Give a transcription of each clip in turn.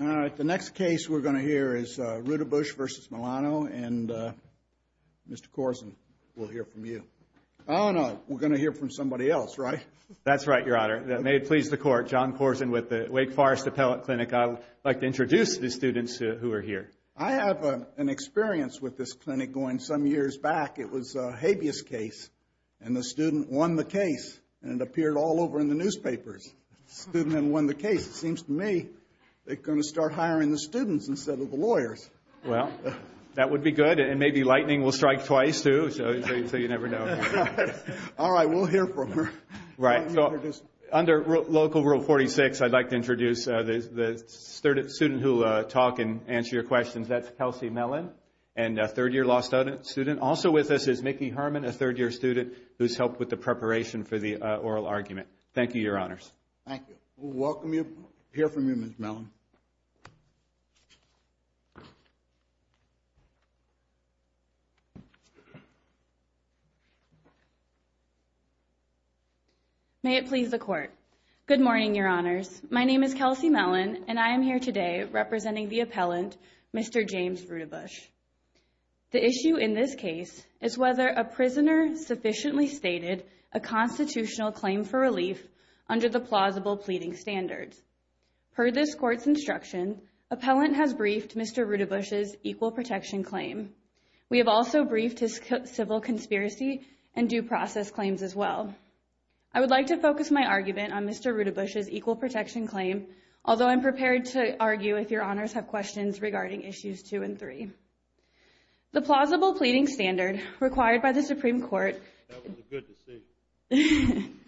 All right, the next case we're going to hear is Roudabush v. Milano, and Mr. Korsen, we'll hear from you. Oh, no, we're going to hear from somebody else, right? That's right, Your Honor. May it please the Court, John Korsen with the Wake Forest Appellate Clinic. I'd like to introduce the students who are here. I have an experience with this clinic going some years back. It was a habeas case, and the student won the case, and it appeared all over in the newspapers. The student had won the case. It seems to me they're going to start hiring the students instead of the lawyers. Well, that would be good, and maybe lightning will strike twice, too, so you never know. All right, we'll hear from her. Right, so under Local Rule 46, I'd like to introduce the student who will talk and answer your questions. That's Kelsey Mellon, a third-year law student. Also with us is Mickey Herman, a third-year student who's helped with the preparation for the oral argument. Thank you, Your Honors. Thank you. We'll welcome you, hear from you, Ms. Mellon. May it please the Court. Good morning, Your Honors. My name is Kelsey Mellon, and I am here today representing the appellant, Mr. James Rudabush. The issue in this case is whether a prisoner sufficiently stated a constitutional claim for relief under the plausible pleading standards. Per this Court's instruction, appellant has briefed Mr. Rudabush's equal protection claim. We have also briefed his civil conspiracy and due process claims as well. I would like to focus my argument on Mr. Rudabush's equal protection claim, although I'm prepared to argue if Your Honors have questions regarding issues two and three. The plausible pleading standard required by the Supreme Court... That was a good decision.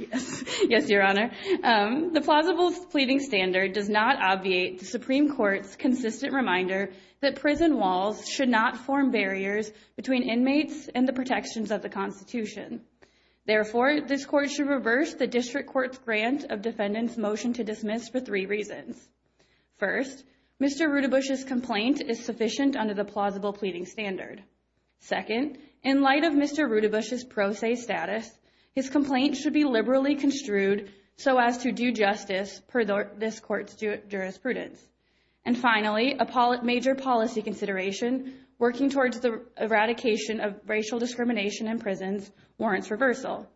Yes, Your Honor. The plausible pleading standard does not obviate the Supreme Court's consistent reminder that prison walls should not form barriers between inmates and the protections of the Constitution. Therefore, this Court should reverse the District Court's grant of defendants' motion to dismiss for three reasons. First, Mr. Rudabush's complaint is sufficient under the plausible pleading standard. Second, in light of Mr. Rudabush's pro se status, his complaint should be liberally construed so as to do justice per this Court's jurisprudence. And finally, a major policy consideration working towards the eradication of racial discrimination in prisons warrants reversal.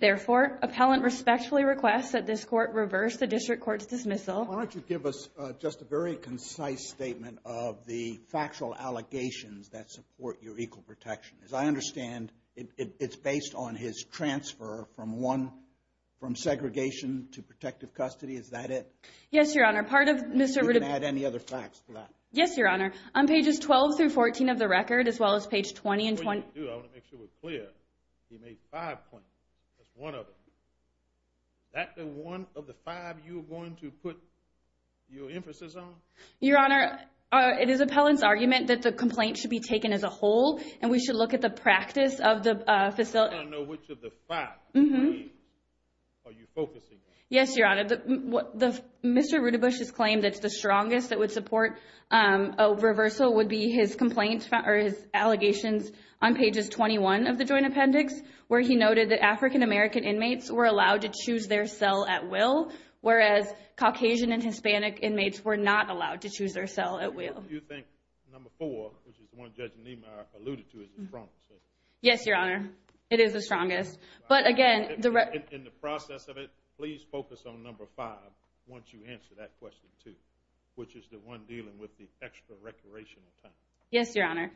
Therefore, appellant respectfully requests that this Court reverse the District Court's dismissal. Why don't you give us just a very concise statement of the factual allegations that support your equal protection. As I understand, it's based on his transfer from one, from segregation to protective custody. Is that it? Yes, Your Honor. Part of Mr. Rudabush... You didn't add any other facts to that? Yes, Your Honor. On pages 12 through 14 of the record, as well as page 20 and 20... I want to make sure we're clear. He made five complaints. That's one of them. Is that the one of the five you're going to put your emphasis on? Your Honor, it is appellant's argument that the complaint should be taken as a whole, and we should look at the practice of the facility. I don't know which of the five claims are you focusing on. Yes, Your Honor. Mr. Rudabush's claim that's the strongest that would support a reversal would be his complaint, or his allegations, on pages 21 of the joint appendix, where he noted that African-American inmates were allowed to choose their cell at will, whereas Caucasian and Hispanic inmates were not allowed to choose their cell at will. Do you think number four, which is the one Judge Niemeyer alluded to, is the strongest? Yes, Your Honor. It is the strongest. But again... In the process of it, please focus on number five once you answer that question too, which is the one dealing with the extra recreational time. Yes, Your Honor.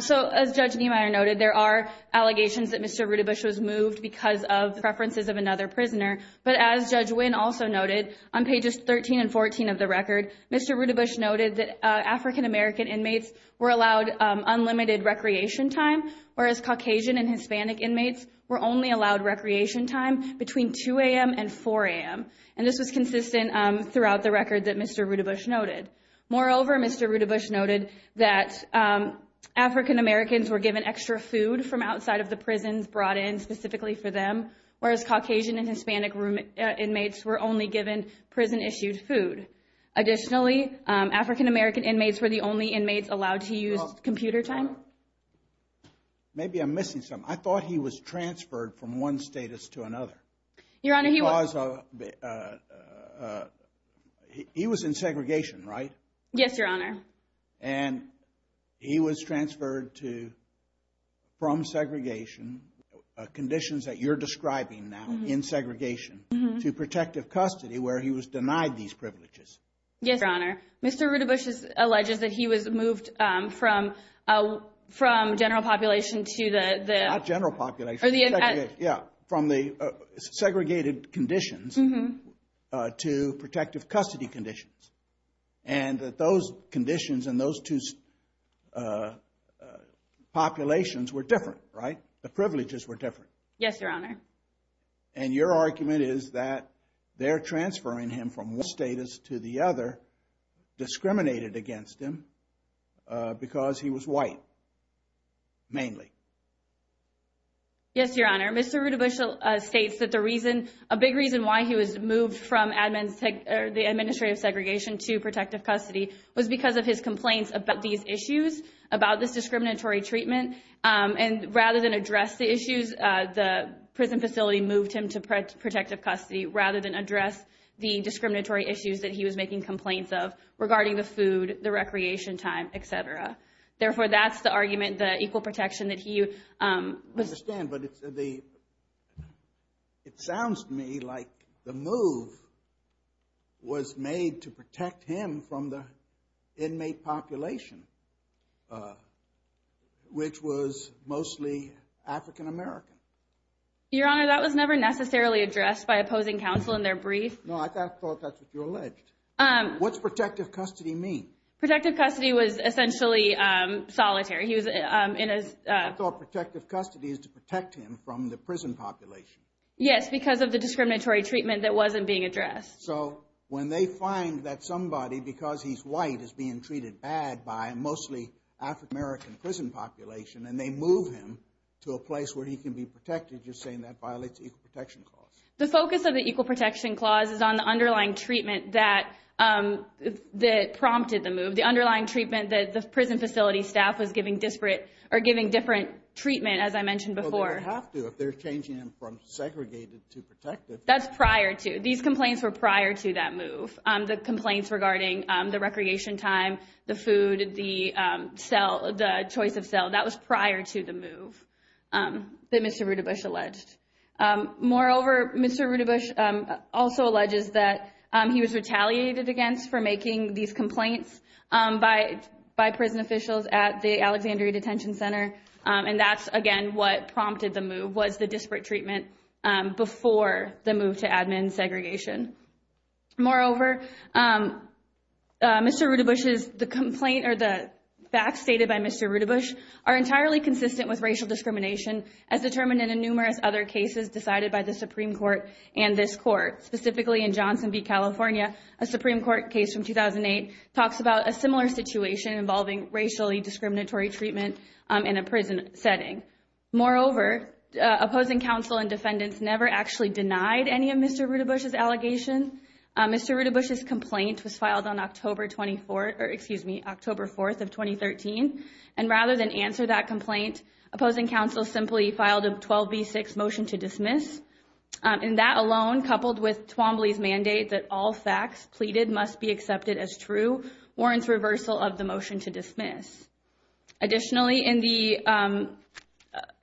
So, as Judge Niemeyer noted, there are allegations that Mr. Rudabush was moved because of preferences of another prisoner. But as Judge Wynn also noted, on pages 13 and 14 of the record, Mr. Rudabush noted that African-American inmates were allowed unlimited recreation time, whereas Caucasian and Hispanic inmates were only allowed recreation time between 2 a.m. and 4 a.m. And this was consistent throughout the record that Mr. Rudabush noted. Moreover, Mr. Rudabush noted that African-Americans were given extra food from outside of the prisons brought in specifically for them, whereas Caucasian and Hispanic inmates were only given prison-issued food. Additionally, African-American inmates were the only inmates allowed to use computer time. Maybe I'm missing something. I thought he was transferred from one status to another. Your Honor, he was... He was in segregation, right? Yes, Your Honor. And he was transferred to, from segregation, conditions that you're describing now, in segregation, to protective custody, where he was denied these privileges. Yes, Your Honor. Mr. Rudabush alleges that he was moved from general population to the... Not general population. Yeah, from the segregated conditions to protective custody conditions. And that those conditions and those two populations were different, right? The privileges were different. Yes, Your Honor. And your argument is that they're transferring him from one status to the other, discriminated against him, because he was white, mainly. Yes, Your Honor. Mr. Rudabush states that the reason, a big reason why he was moved from admin... The administrative segregation to protective custody was because of his complaints about these issues, about this discriminatory treatment. And rather than address the issues, the prison facility moved him to protective custody, rather than address the discriminatory issues that he was making complaints of regarding the food, the recreation time, et cetera. Therefore that's the argument, the equal protection that he... I understand, but it sounds to me like the move was made to protect him from the inmate population, which was mostly African American. Your Honor, that was never necessarily addressed by opposing counsel in their brief. No, I thought that's what you alleged. What's protective custody mean? Protective custody was essentially solitary. He was in a... I thought protective custody is to protect him from the prison population. Yes, because of the discriminatory treatment that wasn't being addressed. So, when they find that somebody, because he's white, is being treated bad by mostly African American prison population, and they move him to a place where he can be protected, you're saying that violates the equal protection clause? The focus of the equal protection clause is on the underlying treatment that prompted the move. The underlying treatment that the prison facility staff was giving different treatment, as I mentioned before. Well, they don't have to if they're changing him from segregated to protective. That's prior to. These complaints were prior to that move. The complaints regarding the recreation time, the food, the choice of cell, that was prior to the move that Mr. Rudabush alleged. Moreover, Mr. Rudabush also alleges that he was retaliated against for making these complaints by prison officials at the Alexandria Detention Center. And that's, again, what prompted the move, was the disparate treatment before the move to admin segregation. Moreover, Mr. Rudabush's... The complaint or the facts stated by Mr. Rudabush are entirely consistent with racial discrimination as determined in numerous other cases decided by the Supreme Court and this court, specifically in Johnson v. California. A Supreme Court case from 2008 talks about a similar situation involving racially discriminatory treatment in a prison setting. Moreover, opposing counsel and defendants never actually denied any of Mr. Rudabush's allegations. Mr. Rudabush's complaint was filed on October 24th, or excuse me, October 4th of 2013. And rather than answer that complaint, opposing counsel simply filed a 12v6 motion to dismiss. And that alone, coupled with Twombly's mandate that all facts pleaded must be accepted as true, warrants reversal of the motion to dismiss. Additionally, in the...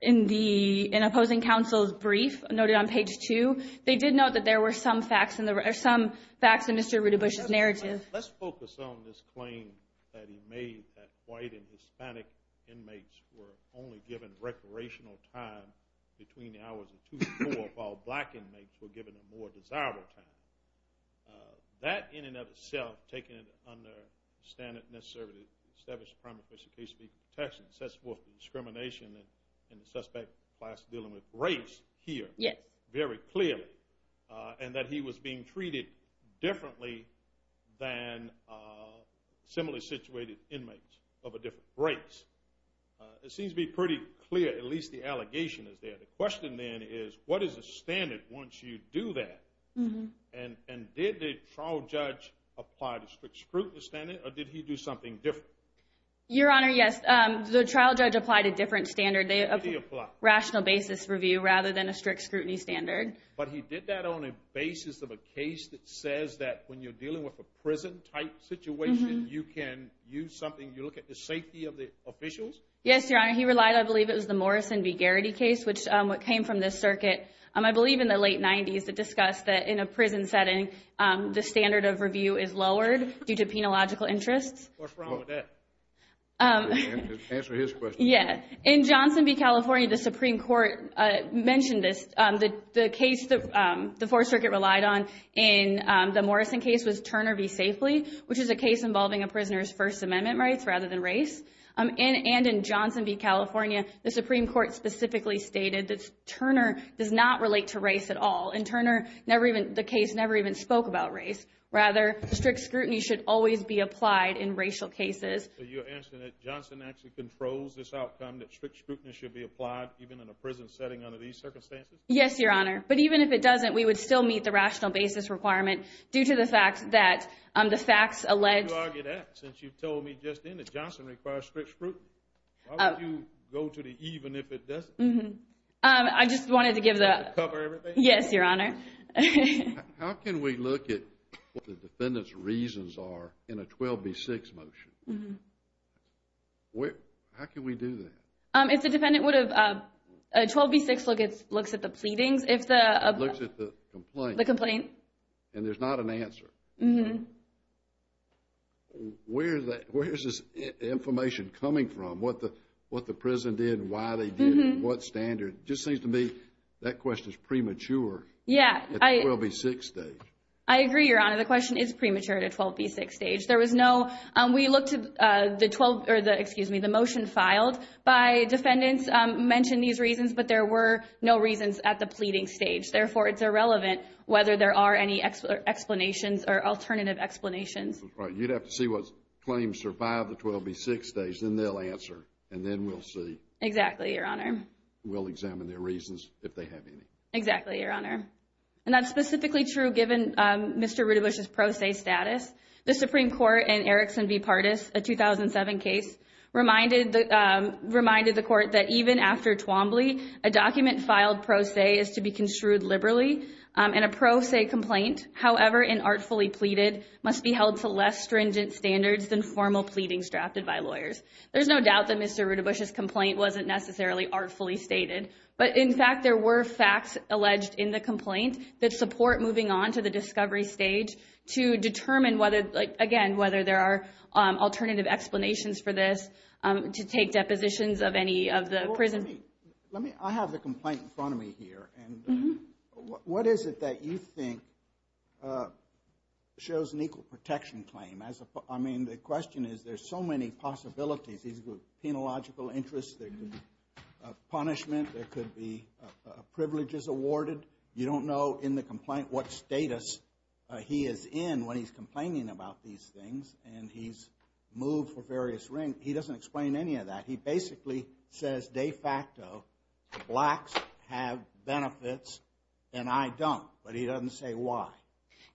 In the... In opposing counsel's brief noted on page two, they did note that there were some facts in the... Or some facts in Mr. Rudabush's narrative. Let's focus on this claim that he made that white and Hispanic inmates were only given recreational time between the hours of 2 to 4, while black inmates were given a more desirable time. That, in and of itself, taken under the standard necessary to establish a primary official case to be protected, sets forth the discrimination in the suspect class dealing with race here Yes. Very clearly. And that he was being treated differently than similarly situated inmates of a different race. It seems to be pretty clear, at least the allegation is there. The question then is, what is the standard once you do that? And did the trial judge apply the strict scrutiny standard, or did he do something different? Your Honor, yes. The trial judge applied a different standard. What did he apply? Rational basis review, rather than a strict scrutiny standard. But he did that on a basis of a case that says that when you're dealing with a prison-type situation, you can use something, you look at the safety of the officials? Yes, Your Honor. He relied, I believe it was the Morrison v. Garrity case, which came from this circuit. I believe in the late 90s, it discussed that in a prison setting, the standard of review is lowered due to penological interests. What's wrong with that? Answer his question. Yeah. In Johnson v. California, the Supreme Court mentioned this. The case the Fourth Circuit relied on in the Morrison case was Turner v. Safely, which is a case involving a prisoner's First Amendment rights rather than race. And in Johnson v. California, the Supreme Court specifically stated that Turner does not relate to race at all. And Turner, the case never even spoke about race. Rather, strict scrutiny should always be applied in racial cases. So you're answering that Johnson actually controls this outcome, that strict scrutiny should be applied even in a prison setting under these circumstances? Yes, Your Honor. But even if it doesn't, we would still meet the rational basis requirement due to the fact that the facts allege— Why would you argue that since you've told me just then that Johnson requires strict scrutiny? Why would you go to the even if it doesn't? I just wanted to give the— To cover everything? Yes, Your Honor. How can we look at what the defendant's reasons are in a 12b-6 motion? How can we do that? If the defendant would have—12b-6 looks at the pleadings, if the— Looks at the complaint. The complaint. And there's not an answer. Where is this information coming from? What the prison did, why they did it, what standard? It just seems to me that question is premature. Yeah. At the 12b-6 stage. I agree, Your Honor. The question is premature at a 12b-6 stage. There was no—we looked at the 12—or the, excuse me, the motion filed by defendants mentioned these reasons, but there were no reasons at the pleading stage. Therefore, it's irrelevant whether there are any explanations or alternative explanations. That's right. You'd have to see what claims survive the 12b-6 stage. Then they'll answer. And then we'll see. Exactly, Your Honor. We'll examine their reasons if they have any. Exactly, Your Honor. And that's specifically true given Mr. Rudebusch's pro se status. The Supreme Court in Erickson v. Pardis, a 2007 case, reminded the court that even after Twombly, a document filed pro se is to be construed liberally. And a pro se complaint, however inartfully pleaded, must be held to less stringent standards than formal pleadings drafted by lawyers. There's no doubt that Mr. Rudebusch's complaint wasn't necessarily artfully stated. But, in fact, there were facts alleged in the complaint that support moving on to the discovery stage to determine whether, again, whether there are alternative explanations for this, to take depositions of any of the prison... Well, let me... I have the complaint in front of me here. And what is it that you think shows an equal protection claim? I mean, the question is there's so many possibilities. There could be penological interests. There could be punishment. There could be privileges awarded. You don't know in the complaint what status he is in when he's complaining about these things. And he's moved for various ranks. He doesn't explain any of that. He basically says, de facto, blacks have benefits and I don't. But he doesn't say why.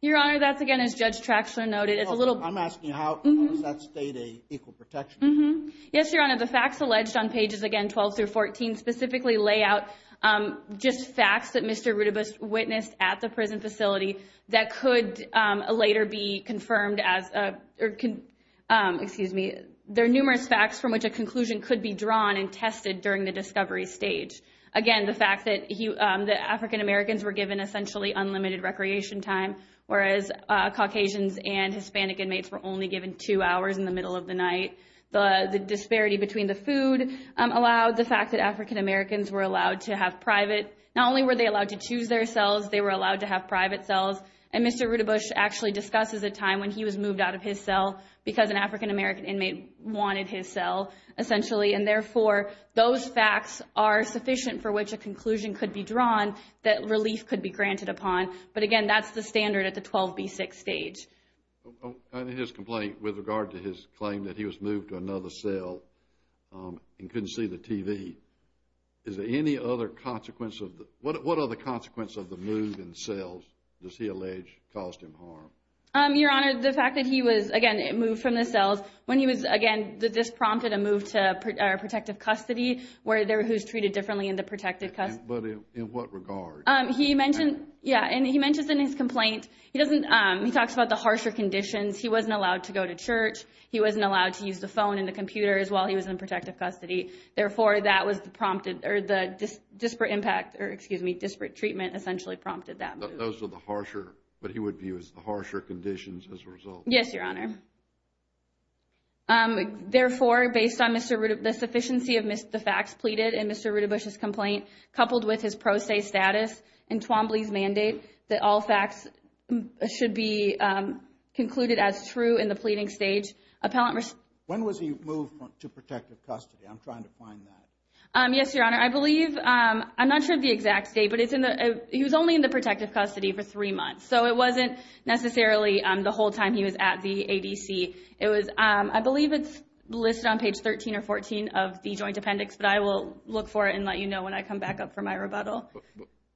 Your Honor, that's, again, as Judge Traxler noted, it's a little... I'm asking how does that state an equal protection? Yes, Your Honor. The facts alleged on pages, again, 12 through 14, specifically lay out just facts that Mr. Rudibus witnessed at the prison facility that could later be confirmed as a... Excuse me. There are numerous facts from which a conclusion could be drawn and tested during the discovery stage. Again, the fact that African Americans were given essentially unlimited recreation time, whereas Caucasians and Hispanic inmates were only given two hours in the middle of the night. The disparity between the food allowed. The fact that African Americans were allowed to have private... Not only were they allowed to choose their cells, they were allowed to have private cells. And Mr. Rudibus actually discusses a time when he was moved out of his cell because an African American inmate wanted his cell, essentially. And, therefore, those facts are sufficient for which a conclusion could be drawn that relief could be granted upon. But, again, that's the standard at the 12B6 stage. His complaint with regard to his claim that he was moved to another cell and couldn't see the TV. Is there any other consequence of the... What other consequence of the move in cells does he allege caused him harm? Your Honor, the fact that he was, again, moved from the cells when he was, again, this prompted a move to protective custody where there was treated differently in the protective custody. But in what regard? He mentioned, yeah, and he mentions in his complaint, he doesn't... He talks about the harsher conditions. He wasn't allowed to go to church. He wasn't allowed to use the phone and the computer as well. He was in protective custody. Therefore, that was the prompted, or the disparate impact, or, excuse me, disparate treatment essentially prompted that move. Those were the harsher, what he would view as the harsher conditions as a result. Yes, Your Honor. Therefore, based on Mr. Rudibus, the sufficiency of the facts pleaded in Mr. Rudibus' complaint coupled with his pro se status and Twombly's mandate, that all facts should be concluded as true in the pleading stage, appellant... When was he moved to protective custody? I'm trying to find that. Yes, Your Honor. I believe, I'm not sure of the exact date, but he was only in the protective custody for three months. So it wasn't necessarily the whole time he was at the ADC. It was, I believe it's listed on page 13 or 14 of the joint appendix, but I will look for it and let you know when I come back up for my rebuttal.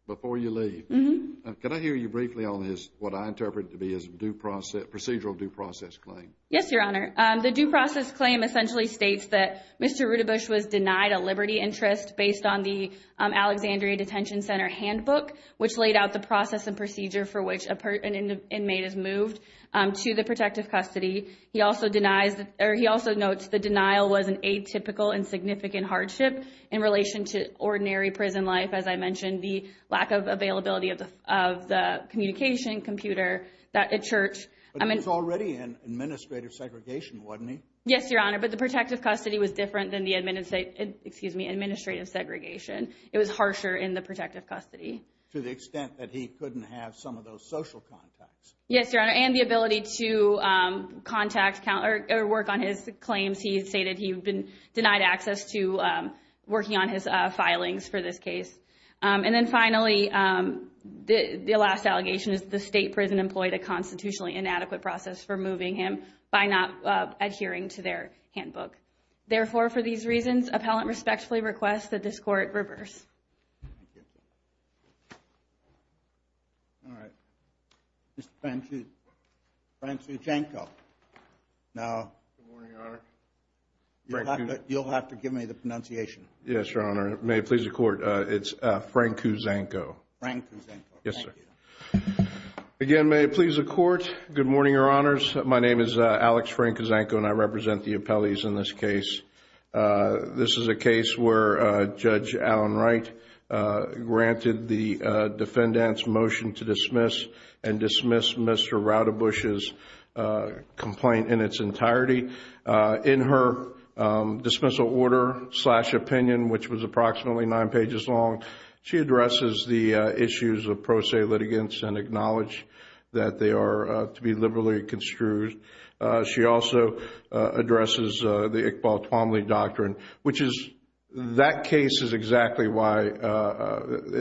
Before you leave, can I hear you briefly on what I interpret to be a procedural due process claim? Yes, Your Honor. The due process claim essentially states that Mr. Rudibus was denied a liberty interest based on the Alexandria Detention Center handbook, which laid out the process and procedure for which an inmate is moved to the protective custody. He also denies, or he also notes the denial was an atypical and significant hardship in relation to ordinary prison life. As I mentioned, the lack of availability of the communication computer at church. But he was already in administrative segregation, wasn't he? Yes, Your Honor, but the protective custody was different than the administrative segregation. It was harsher in the protective custody. To the extent that he couldn't have some of those social contacts. Yes, Your Honor, and the ability to contact or work on his claims. He stated he had been denied access to working on his filings for this case. And then finally, the last allegation is the state prison employed a constitutionally inadequate process for moving him by not adhering to their handbook. Therefore, for these reasons, appellant respectfully requests that this court reverse. Thank you. All right. Mr. Frank Cuzanko. Good morning, Your Honor. You'll have to give me the pronunciation. Yes, Your Honor. May it please the Court, it's Frank Cuzanko. Frank Cuzanko. Yes, sir. Again, may it please the Court. Good morning, Your Honors. My name is Alex Frank Cuzanko, and I represent the appellees in this case. This is a case where Judge Alan Wright granted the defendant's motion to dismiss and dismiss Mr. Raudebusch's complaint in its entirety. In her dismissal order slash opinion, which was approximately nine pages long, she addresses the issues of pro se litigants and acknowledged that they are to be liberally construed. She also addresses the Iqbal Tuamli Doctrine, which is that case is exactly why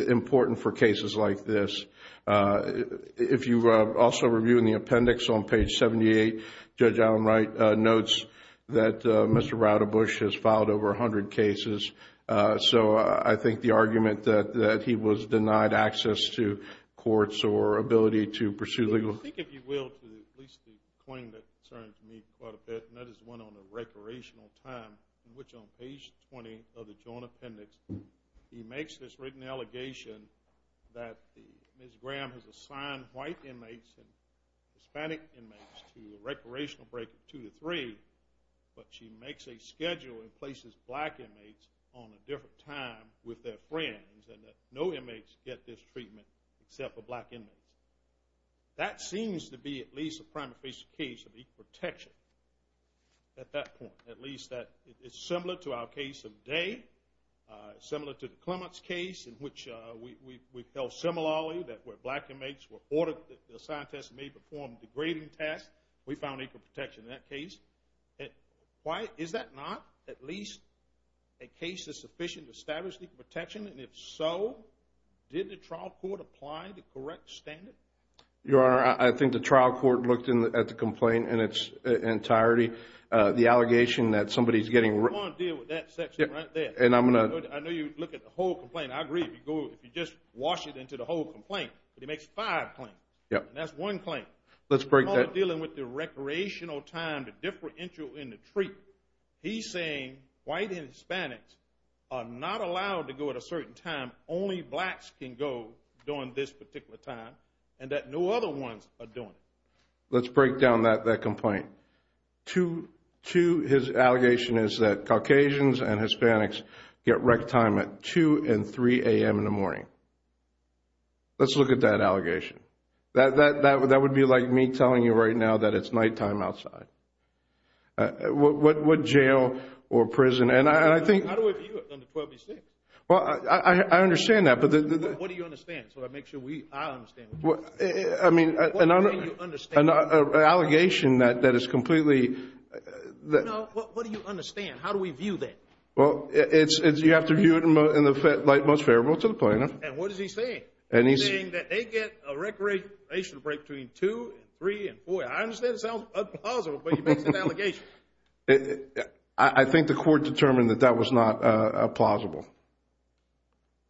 important for cases like this. If you also review in the appendix on page 78, Judge Alan Wright notes that Mr. Raudebusch has filed over 100 cases. So I think the argument that he was denied access to courts or ability to pursue legal... Well, I think, if you will, to at least the claim that concerns me quite a bit, and that is one on the recreational time, which on page 20 of the joint appendix, he makes this written allegation that Ms. Graham has assigned white inmates and Hispanic inmates to a recreational break of two to three, but she makes a schedule and places black inmates on a different time with their friends and that no inmates get this treatment except for black inmates. That seems to be at least a prima facie case of equal protection at that point, at least that it's similar to our case of day, similar to the Clements case, in which we felt similarly that where black inmates were ordered, the scientists may perform degrading tests. We found equal protection in that case. Why is that not at least a case of sufficient established equal protection? And if so, did the trial court apply the correct standard? Your Honor, I think the trial court looked at the complaint in its entirety. The allegation that somebody is getting... I want to deal with that section right there. And I'm going to... I know you look at the whole complaint. I agree. If you just wash it into the whole complaint, but he makes five claims. Yes. And that's one claim. Let's break that... Dealing with the recreational time, the differential in the treatment. He's saying white and Hispanics are not allowed to go at a certain time, only blacks can go during this particular time, and that no other ones are doing it. Let's break down that complaint. Two, his allegation is that Caucasians and Hispanics get rec time at 2 and 3 a.m. in the morning. Let's look at that allegation. That would be like me telling you right now that it's nighttime outside. What jail or prison? And I think... How do we view it under 12B6? Well, I understand that, but... What do you understand? So I make sure I understand. I mean, an allegation that is completely... No, what do you understand? How do we view that? Well, you have to view it in the light most favorable to the plaintiff. And what is he saying? He's saying that they get a recreational break between 2 and 3 and 4 a.m. I understand it sounds plausible, but he makes an allegation. I think the court determined that that was not plausible.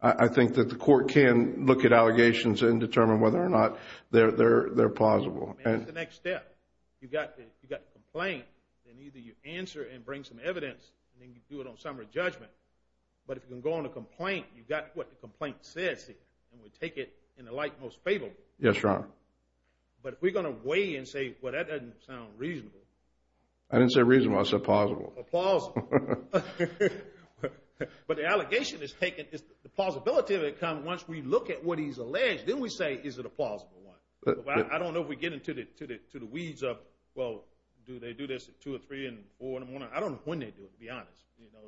I think that the court can look at allegations and determine whether or not they're plausible. That's the next step. You've got the complaint, and either you answer and bring some evidence, and then you do it on summary judgment. But if you can go on a complaint, you've got what the complaint says, and we take it in the light most favorable. Yes, Your Honor. But if we're going to weigh and say, well, that doesn't sound reasonable. I didn't say reasonable. I said plausible. Plausible. But the allegation is taken. The plausibility of it comes once we look at what he's alleged. Then we say, is it a plausible one? I don't know if we get into the weeds of, well, do they do this at 2 or 3 and 4? I don't know when they do it, to be honest.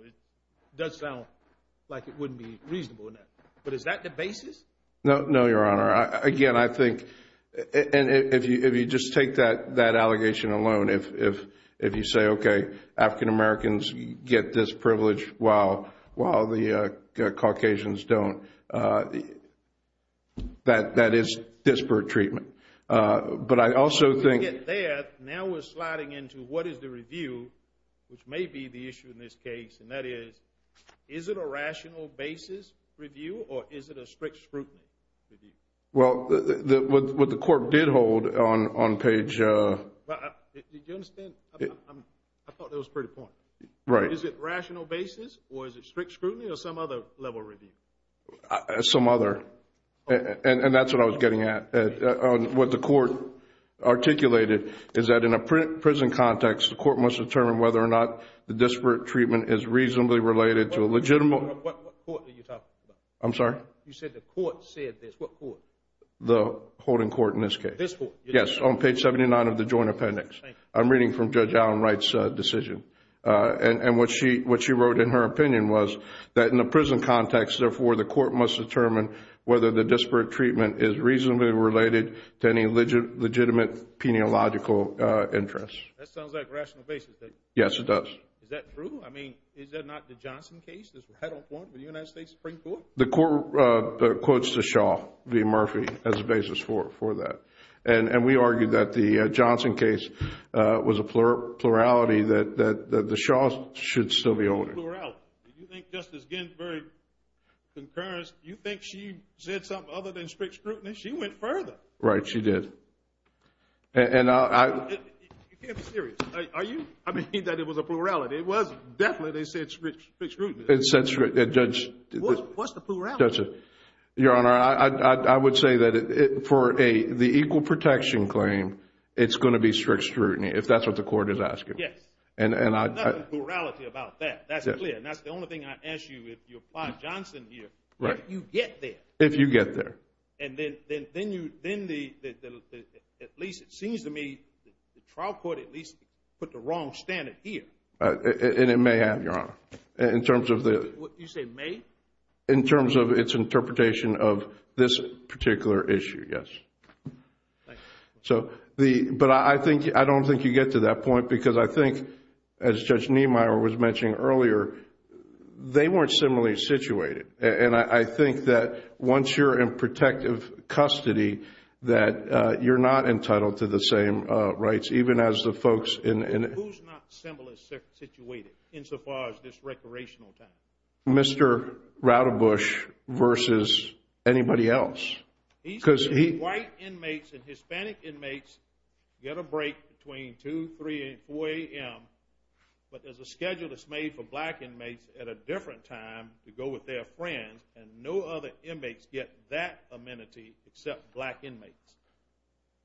It does sound like it wouldn't be reasonable. But is that the basis? No, Your Honor. Again, I think if you just take that allegation alone, if you say, okay, African-Americans get this privilege while the Caucasians don't, that is disparate treatment. But I also think – When we get there, now we're sliding into what is the review, which may be the issue in this case, and that is, is it a rational basis review or is it a strict scrutiny review? Well, what the court did hold on page – Did you understand? I thought that was a pretty point. Right. Is it rational basis or is it strict scrutiny or some other level review? Some other. And that's what I was getting at. What the court articulated is that in a prison context, the court must determine whether or not the disparate treatment is reasonably related to a legitimate – What court are you talking about? I'm sorry? You said the court said this. What court? The holding court in this case. This court? Yes, on page 79 of the joint appendix. I'm reading from Judge Allen Wright's decision. And what she wrote in her opinion was that in a prison context, therefore the court must determine whether the disparate treatment is reasonably related to any legitimate peniological interest. That sounds like a rational basis. Yes, it does. Is that true? I mean, is that not the Johnson case? I don't want the United States Supreme Court. The court quotes the Shaw v. Murphy as a basis for that. And we argued that the Johnson case was a plurality that the Shaws should still be owning. Plurality. You think Justice Ginsburg concurrence, you think she said something other than strict scrutiny? She went further. Right, she did. You can't be serious. Are you? I mean, that it was a plurality. It was definitely, they said strict scrutiny. It said strict. Judge? What's the plurality? Your Honor, I would say that for the equal protection claim, it's going to be strict scrutiny, if that's what the court is asking. Yes. There's nothing plurality about that. That's clear. And that's the only thing I ask you if you apply Johnson here. Right. If you get there. If you get there. And then, at least it seems to me, the trial court at least put the wrong standard here. And it may have, Your Honor. In terms of the... You say may? In terms of its interpretation of this particular issue, yes. Thank you. But I don't think you get to that point because I think, as Judge Niemeyer was mentioning earlier, they weren't similarly situated. And I think that once you're in protective custody, that you're not entitled to the same rights, even as the folks in... Who's not similarly situated insofar as this recreational time? Mr. Radebush versus anybody else. He's... Because he... White inmates and Hispanic inmates get a break between 2, 3, and 4 a.m. But there's a schedule that's made for black inmates at a different time to go with their friends, and no other inmates get that amenity except black inmates.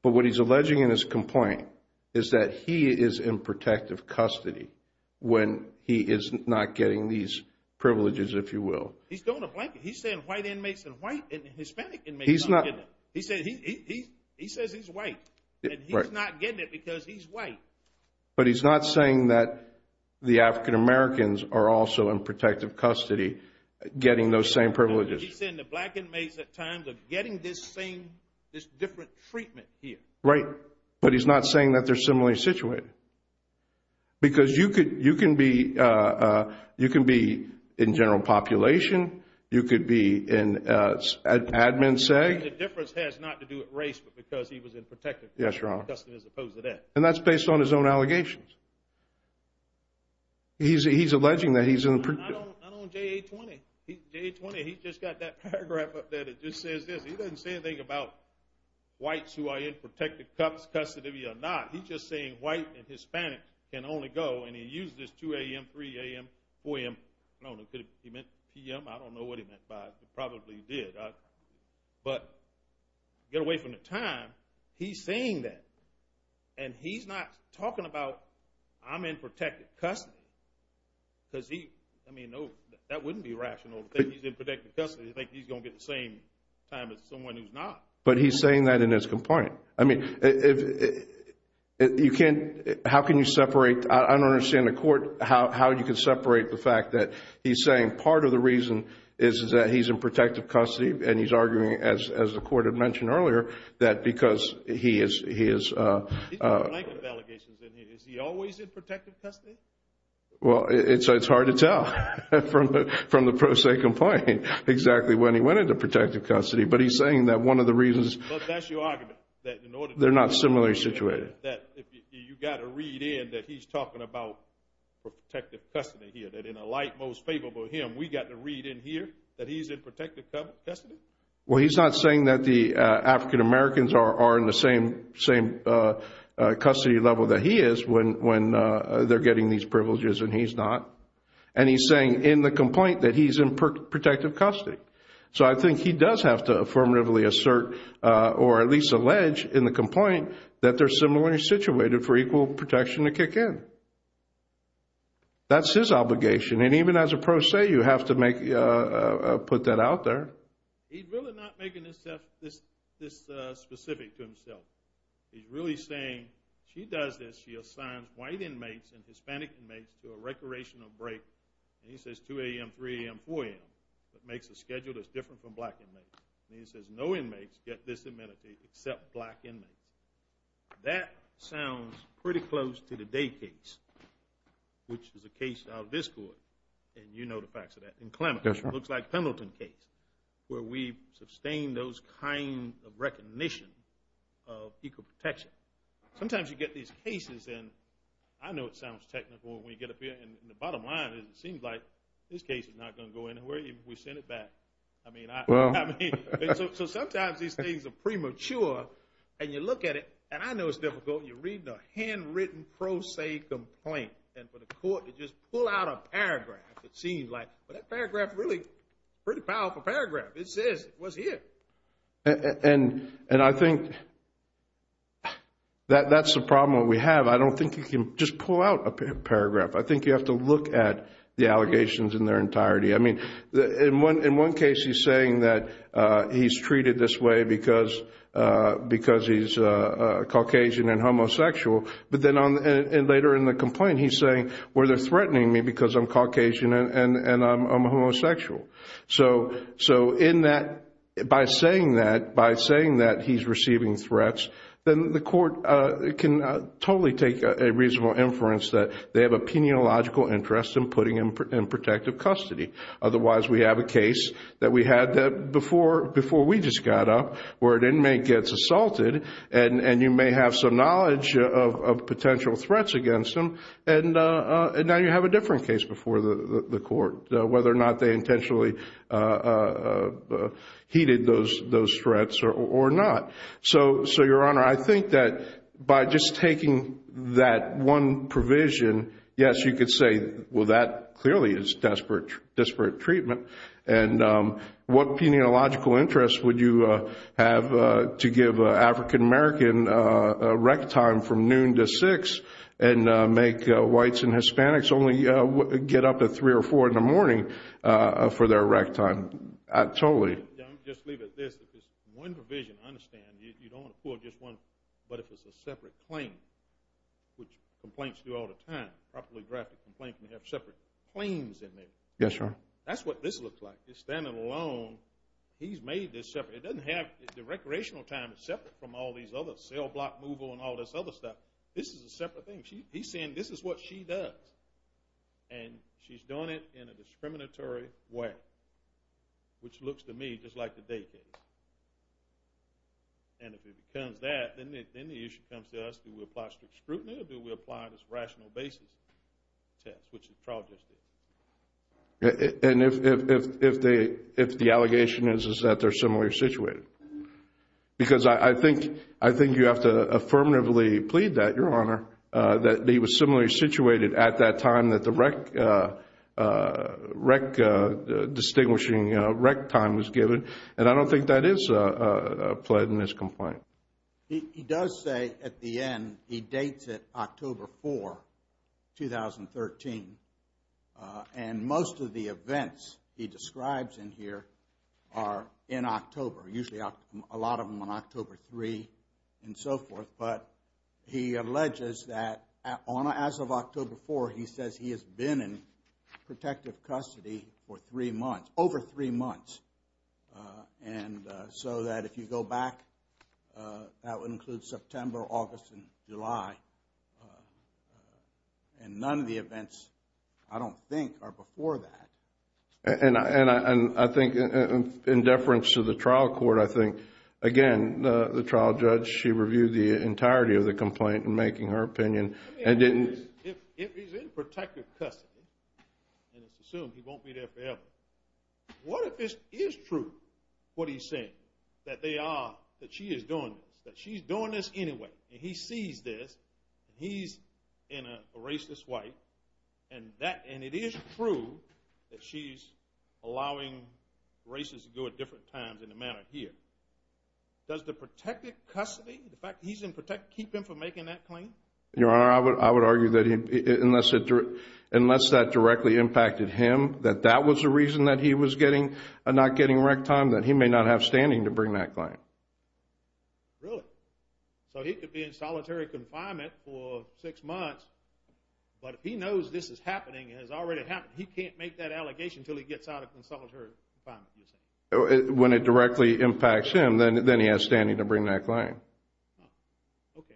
But what he's alleging in his complaint is that he is in protective custody when he is not getting these privileges, if you will. He's throwing a blanket. He's saying white inmates and Hispanic inmates aren't getting it. He says he's white, and he's not getting it because he's white. But he's not saying that the African-Americans are also in protective custody, getting those same privileges. He's saying the black inmates at times are getting this same, this different treatment here. Right. But he's not saying that they're similarly situated. Because you can be in general population. You could be in admin, say. The difference has not to do with race, but because he was in protective custody as opposed to that. And that's based on his own allegations. He's alleging that he's in a privilege. Not on JA-20. JA-20, he just got that paragraph up there that just says this. He doesn't say anything about whites who are in protective custody or not. He's just saying white and Hispanic can only go, and he used this 2 a.m., 3 a.m., 4 a.m. I don't know if he meant p.m. I don't know what he meant by it. He probably did. But get away from the time. He's saying that. And he's not talking about I'm in protective custody. Because he, I mean, no, that wouldn't be rational. If he's in protective custody, he's going to get the same time as someone who's not. But he's saying that in his complaint. I mean, you can't, how can you separate, I don't understand the court, how you can separate the fact that he's saying part of the reason is that he's in protective custody. And he's arguing, as the court had mentioned earlier, that because he is. He's got a blanket of allegations in here. Is he always in protective custody? Well, it's hard to tell from the pro se complaint exactly when he went into protective custody. But he's saying that one of the reasons. But that's your argument. They're not similarly situated. You've got to read in that he's talking about protective custody here. That in a light most favorable of him, we've got to read in here that he's in protective custody? Well, he's not saying that the African Americans are in the same custody level that he is when they're getting these privileges and he's not. And he's saying in the complaint that he's in protective custody. So I think he does have to affirmatively assert or at least allege in the complaint that they're similarly situated for equal protection to kick in. That's his obligation. And even as a pro se, you have to put that out there. He's really not making this specific to himself. He's really saying she does this. She assigns white inmates and Hispanic inmates to a recreational break. And he says 2 a.m., 3 a.m., 4 a.m. That makes the schedule that's different from black inmates. And he says no inmates get this amenity except black inmates. That sounds pretty close to the day case, which is a case out of this court. And you know the facts of that. In Klamath, it looks like Pendleton case where we sustained those kind of recognition of equal protection. Sometimes you get these cases and I know it sounds technical when we get up here. And the bottom line is it seems like this case is not going to go anywhere even if we send it back. So sometimes these things are premature. And you look at it, and I know it's difficult. You're reading a handwritten pro se complaint. And for the court to just pull out a paragraph, it seems like, but that paragraph is really a pretty powerful paragraph. It says it was here. And I think that's the problem that we have. I don't think you can just pull out a paragraph. I think you have to look at the allegations in their entirety. I mean, in one case he's saying that he's treated this way because he's Caucasian and homosexual. But then later in the complaint he's saying, well, they're threatening me because I'm Caucasian and I'm homosexual. So in that, by saying that, by saying that he's receiving threats, then the court can totally take a reasonable inference that they have a peniological interest in putting him in protective custody. Otherwise, we have a case that we had before we just got up where an inmate gets assaulted and you may have some knowledge of potential threats against him. And now you have a different case before the court, whether or not they intentionally heeded those threats or not. So, Your Honor, I think that by just taking that one provision, yes, you could say, well, that clearly is desperate treatment. And what peniological interest would you have to give an African American a rec time from noon to 6 and make whites and Hispanics only get up at 3 or 4 in the morning for their rec time? Totally. Let me just leave it at this. If it's one provision, I understand, you don't want to pull just one. But if it's a separate claim, which complaints do all the time, a properly drafted complaint can have separate claims in there. Yes, Your Honor. That's what this looks like. He's standing alone. He's made this separate. It doesn't have the recreational time. It's separate from all these other cell block movable and all this other stuff. This is a separate thing. He's saying this is what she does. And she's doing it in a discriminatory way, which looks to me just like the day case. And if it becomes that, then the issue comes to us. Do we apply strict scrutiny or do we apply this rational basis test, which the trial just did? And if the allegation is that they're similarly situated? Because I think you have to affirmatively plead that, Your Honor, that they were similarly situated at that time that the rec distinguishing rec time was given. And I don't think that is a plead in this complaint. He does say at the end he dates it October 4, 2013. And most of the events he describes in here are in October, usually a lot of them on October 3 and so forth. But he alleges that as of October 4, he says he has been in protective custody for three months, over three months. And so that if you go back, that would include September, August, and July. And none of the events, I don't think, are before that. And I think in deference to the trial court, I think, again, the trial judge, she reviewed the entirety of the complaint in making her opinion and didn't If he's in protective custody, and it's assumed he won't be there forever, what if this is true, what he's saying, that they are, that she is doing this, that she's doing this anyway, and he sees this, and he's in a racist way, and it is true that she's allowing racists to go at different times in the manner here. Does the protective custody, the fact that he's in protective, keep him from making that claim? Your Honor, I would argue that unless that directly impacted him, that that was the reason that he was not getting rec time, that he may not have standing to bring that claim. Really? So he could be in solitary confinement for six months, but if he knows this is happening, it has already happened, he can't make that allegation until he gets out of solitary confinement. When it directly impacts him, then he has standing to bring that claim. Okay.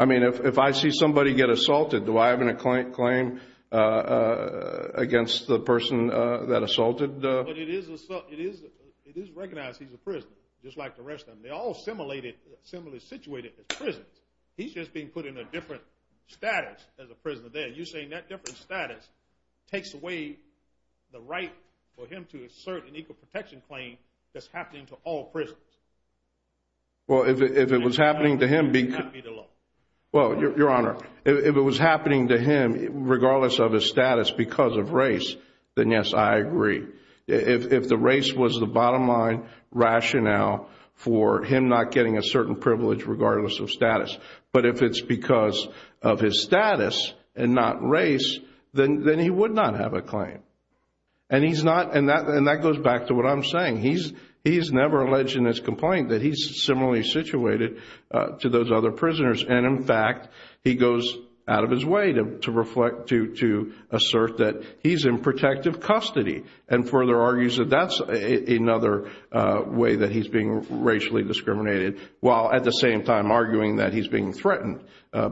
I mean, if I see somebody get assaulted, do I have a claim against the person that assaulted? It is recognized he's a prisoner, just like the rest of them. They're all similarly situated as prisoners. He's just being put in a different status as a prisoner there. You're saying that different status takes away the right for him to assert an equal protection claim that's happening to all prisoners. Well, if it was happening to him, regardless of his status because of race, then yes, I agree. If the race was the bottom line rationale for him not getting a certain privilege regardless of status, but if it's because of his status and not race, then he would not have a claim. And that goes back to what I'm saying. He's never alleged in his complaint that he's similarly situated to those other prisoners. And, in fact, he goes out of his way to assert that he's in protective custody and further argues that that's another way that he's being racially discriminated, while at the same time arguing that he's being threatened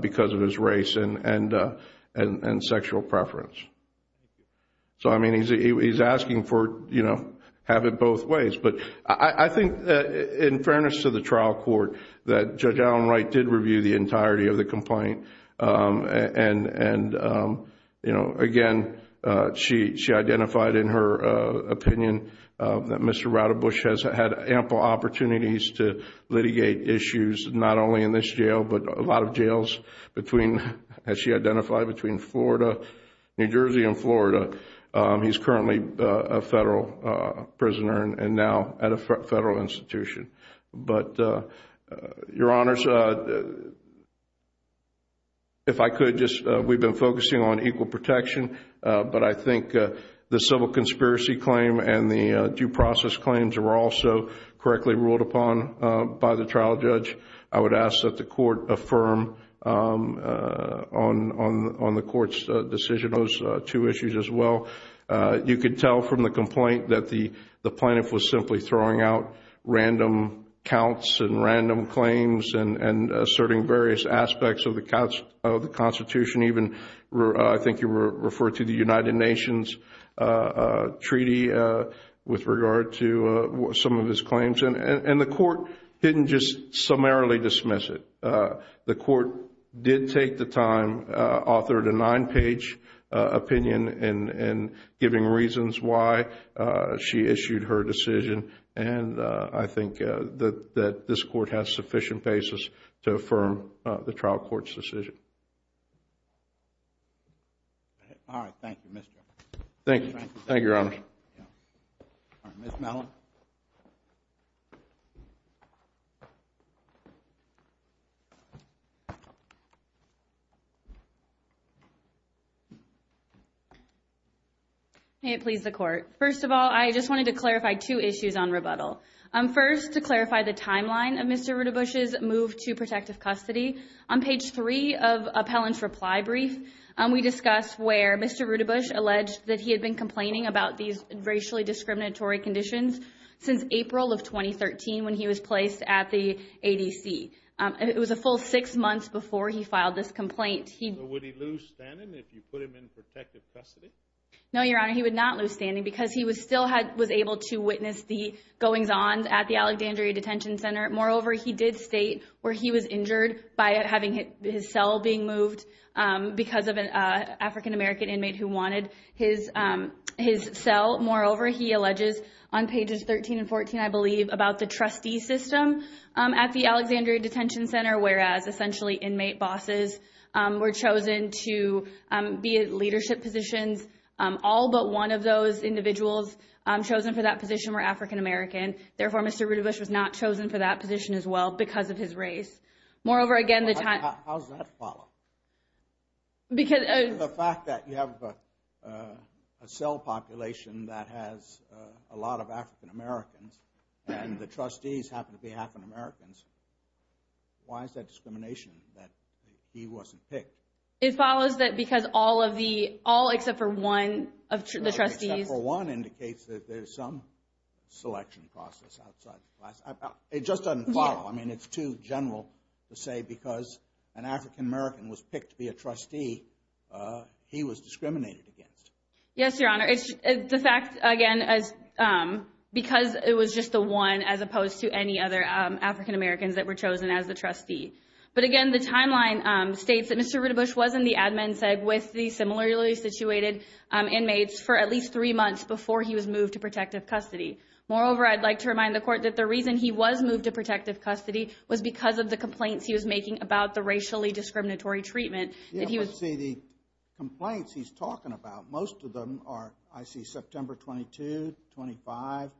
because of his race and sexual preference. So, I mean, he's asking for, you know, have it both ways. But I think, in fairness to the trial court, that Judge Allen Wright did review the entirety of the complaint. And, you know, again, she identified in her opinion that Mr. Radebush has had ample opportunities to litigate issues, not only in this jail, but a lot of jails between, as she identified, between Florida, New Jersey and Florida. He's currently a federal prisoner and now at a federal institution. But, Your Honors, if I could, we've been focusing on equal protection, but I think the civil conspiracy claim and the due process claims were also correctly ruled upon by the trial judge. I would ask that the court affirm on the court's decision on those two issues as well. You could tell from the complaint that the plaintiff was simply throwing out random counts and random claims and asserting various aspects of the Constitution, even I think you referred to the United Nations treaty with regard to some of his claims. And the court didn't just summarily dismiss it. The court did take the time, authored a nine-page opinion, and giving reasons why she issued her decision. And I think that this court has sufficient basis to affirm the trial court's decision. All right. Thank you, Mr. Allen. Thank you. Thank you, Your Honors. Ms. Mellon. May it please the Court. First of all, I just wanted to clarify two issues on rebuttal. First, to clarify the timeline of Mr. Rudabush's move to protective custody, on page three of Appellant's reply brief, we discuss where Mr. Rudabush alleged that he had been complaining about these racially discriminatory conditions since April of 2013 when he was placed at the ADC. It was a full six months before he filed this complaint. So would he lose standing if you put him in protective custody? No, Your Honor, he would not lose standing because he still was able to witness the goings-ons at the Alexandria Detention Center. Moreover, he did state where he was injured by having his cell being moved because of an African-American inmate who wanted his cell. Moreover, he alleges on pages 13 and 14, I believe, about the trustee system at the Alexandria Detention Center, whereas essentially inmate bosses were chosen to be at leadership positions. All but one of those individuals chosen for that position were African-American. Therefore, Mr. Rudabush was not chosen for that position as well because of his race. Moreover, again, the time... How does that follow? Because... The fact that you have a cell population that has a lot of African-Americans and the trustees happen to be African-Americans, why is that discrimination that he wasn't picked? It follows that because all of the, all except for one of the trustees... It just doesn't follow. I mean, it's too general to say because an African-American was picked to be a trustee, he was discriminated against. Yes, Your Honor. It's the fact, again, because it was just the one as opposed to any other African-Americans that were chosen as the trustee. But again, the timeline states that Mr. Rudabush was in the admin seg with the similarly situated inmates for at least three months before he was moved to protective custody. Moreover, I'd like to remind the court that the reason he was moved to protective custody was because of the complaints he was making about the racially discriminatory treatment that he was... Yeah, but see, the complaints he's talking about, most of them are, I see, September 22, 25.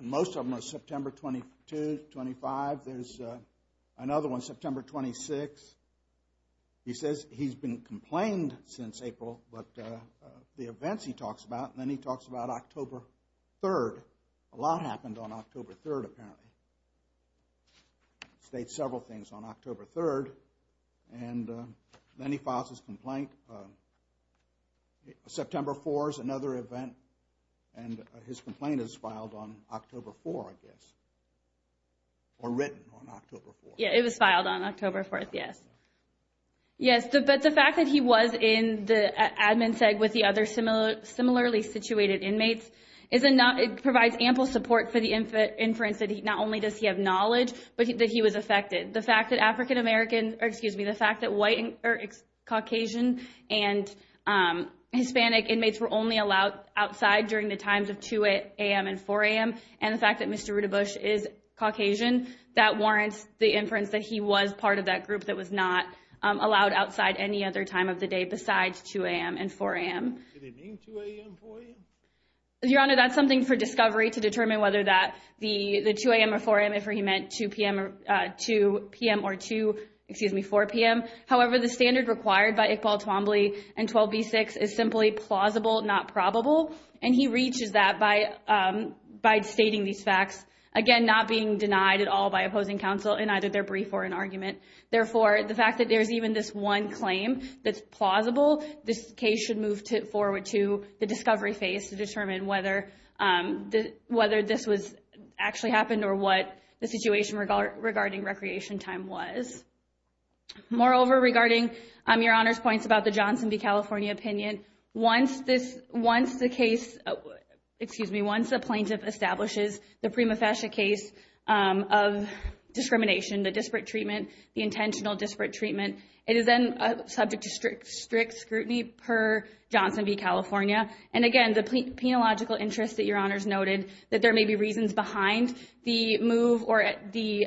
Most of them are September 22, 25. There's another one, September 26. He says he's been complained since April, but the events he talks about, and then he talks about October 3. A lot happened on October 3, apparently. He states several things on October 3, and then he files his complaint. September 4 is another event, and his complaint is filed on October 4, I guess. Or written on October 4. Yeah, it was filed on October 4, yes. Yes, but the fact that he was in the admin seg with the other similarly situated inmates provides ample support for the inference that not only does he have knowledge, but that he was affected. The fact that Caucasian and Hispanic inmates were only allowed outside during the times of 2 a.m. and 4 a.m., and the fact that Mr. Rudabush is Caucasian, that warrants the inference that he was part of that group that was not allowed outside any other time of the day besides 2 a.m. and 4 a.m. Did he mean 2 a.m. or 4 a.m.? Your Honor, that's something for discovery to determine whether that, the 2 a.m. or 4 a.m. if he meant 2 p.m. or 2, excuse me, 4 p.m. However, the standard required by Iqbal Twombly and 12b-6 is simply plausible, not probable, and he reaches that by stating these facts, again, not being denied at all by opposing counsel in either their brief or in argument. Therefore, the fact that there's even this one claim that's plausible, this case should move forward to the discovery phase to determine whether this actually happened or what the situation regarding recreation time was. Moreover, regarding your Honor's points about the Johnson v. California opinion, once the plaintiff establishes the prima facie case of discrimination, the disparate treatment, the intentional disparate treatment, it is then subject to strict scrutiny per Johnson v. California. And again, the penological interests that your Honor's noted, that there may be reasons behind the move or the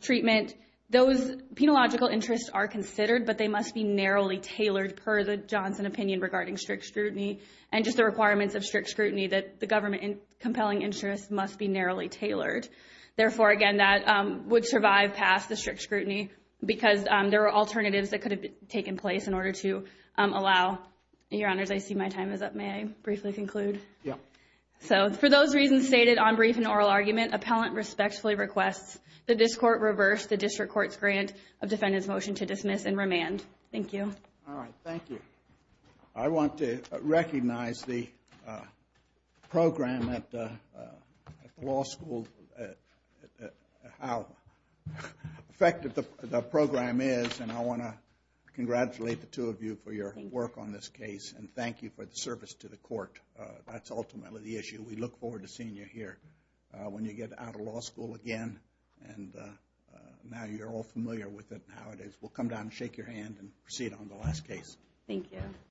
treatment, those penological interests are considered, but they must be narrowly tailored per the Johnson opinion regarding strict scrutiny and just the requirements of strict scrutiny that the government compelling interests must be narrowly tailored. Therefore, again, that would survive past the strict scrutiny because there are alternatives that could have taken place in order to allow. Your Honor, I see my time is up. May I briefly conclude? Yeah. So for those reasons stated on brief and oral argument, the district court reversed the district court's grant of defendant's motion to dismiss and remand. Thank you. All right. Thank you. I want to recognize the program at the law school, how effective the program is, and I want to congratulate the two of you for your work on this case and thank you for the service to the court. That's ultimately the issue. We look forward to seeing you here when you get out of law school again and now you're all familiar with it and how it is. We'll come down and shake your hand and proceed on the last case. Thank you.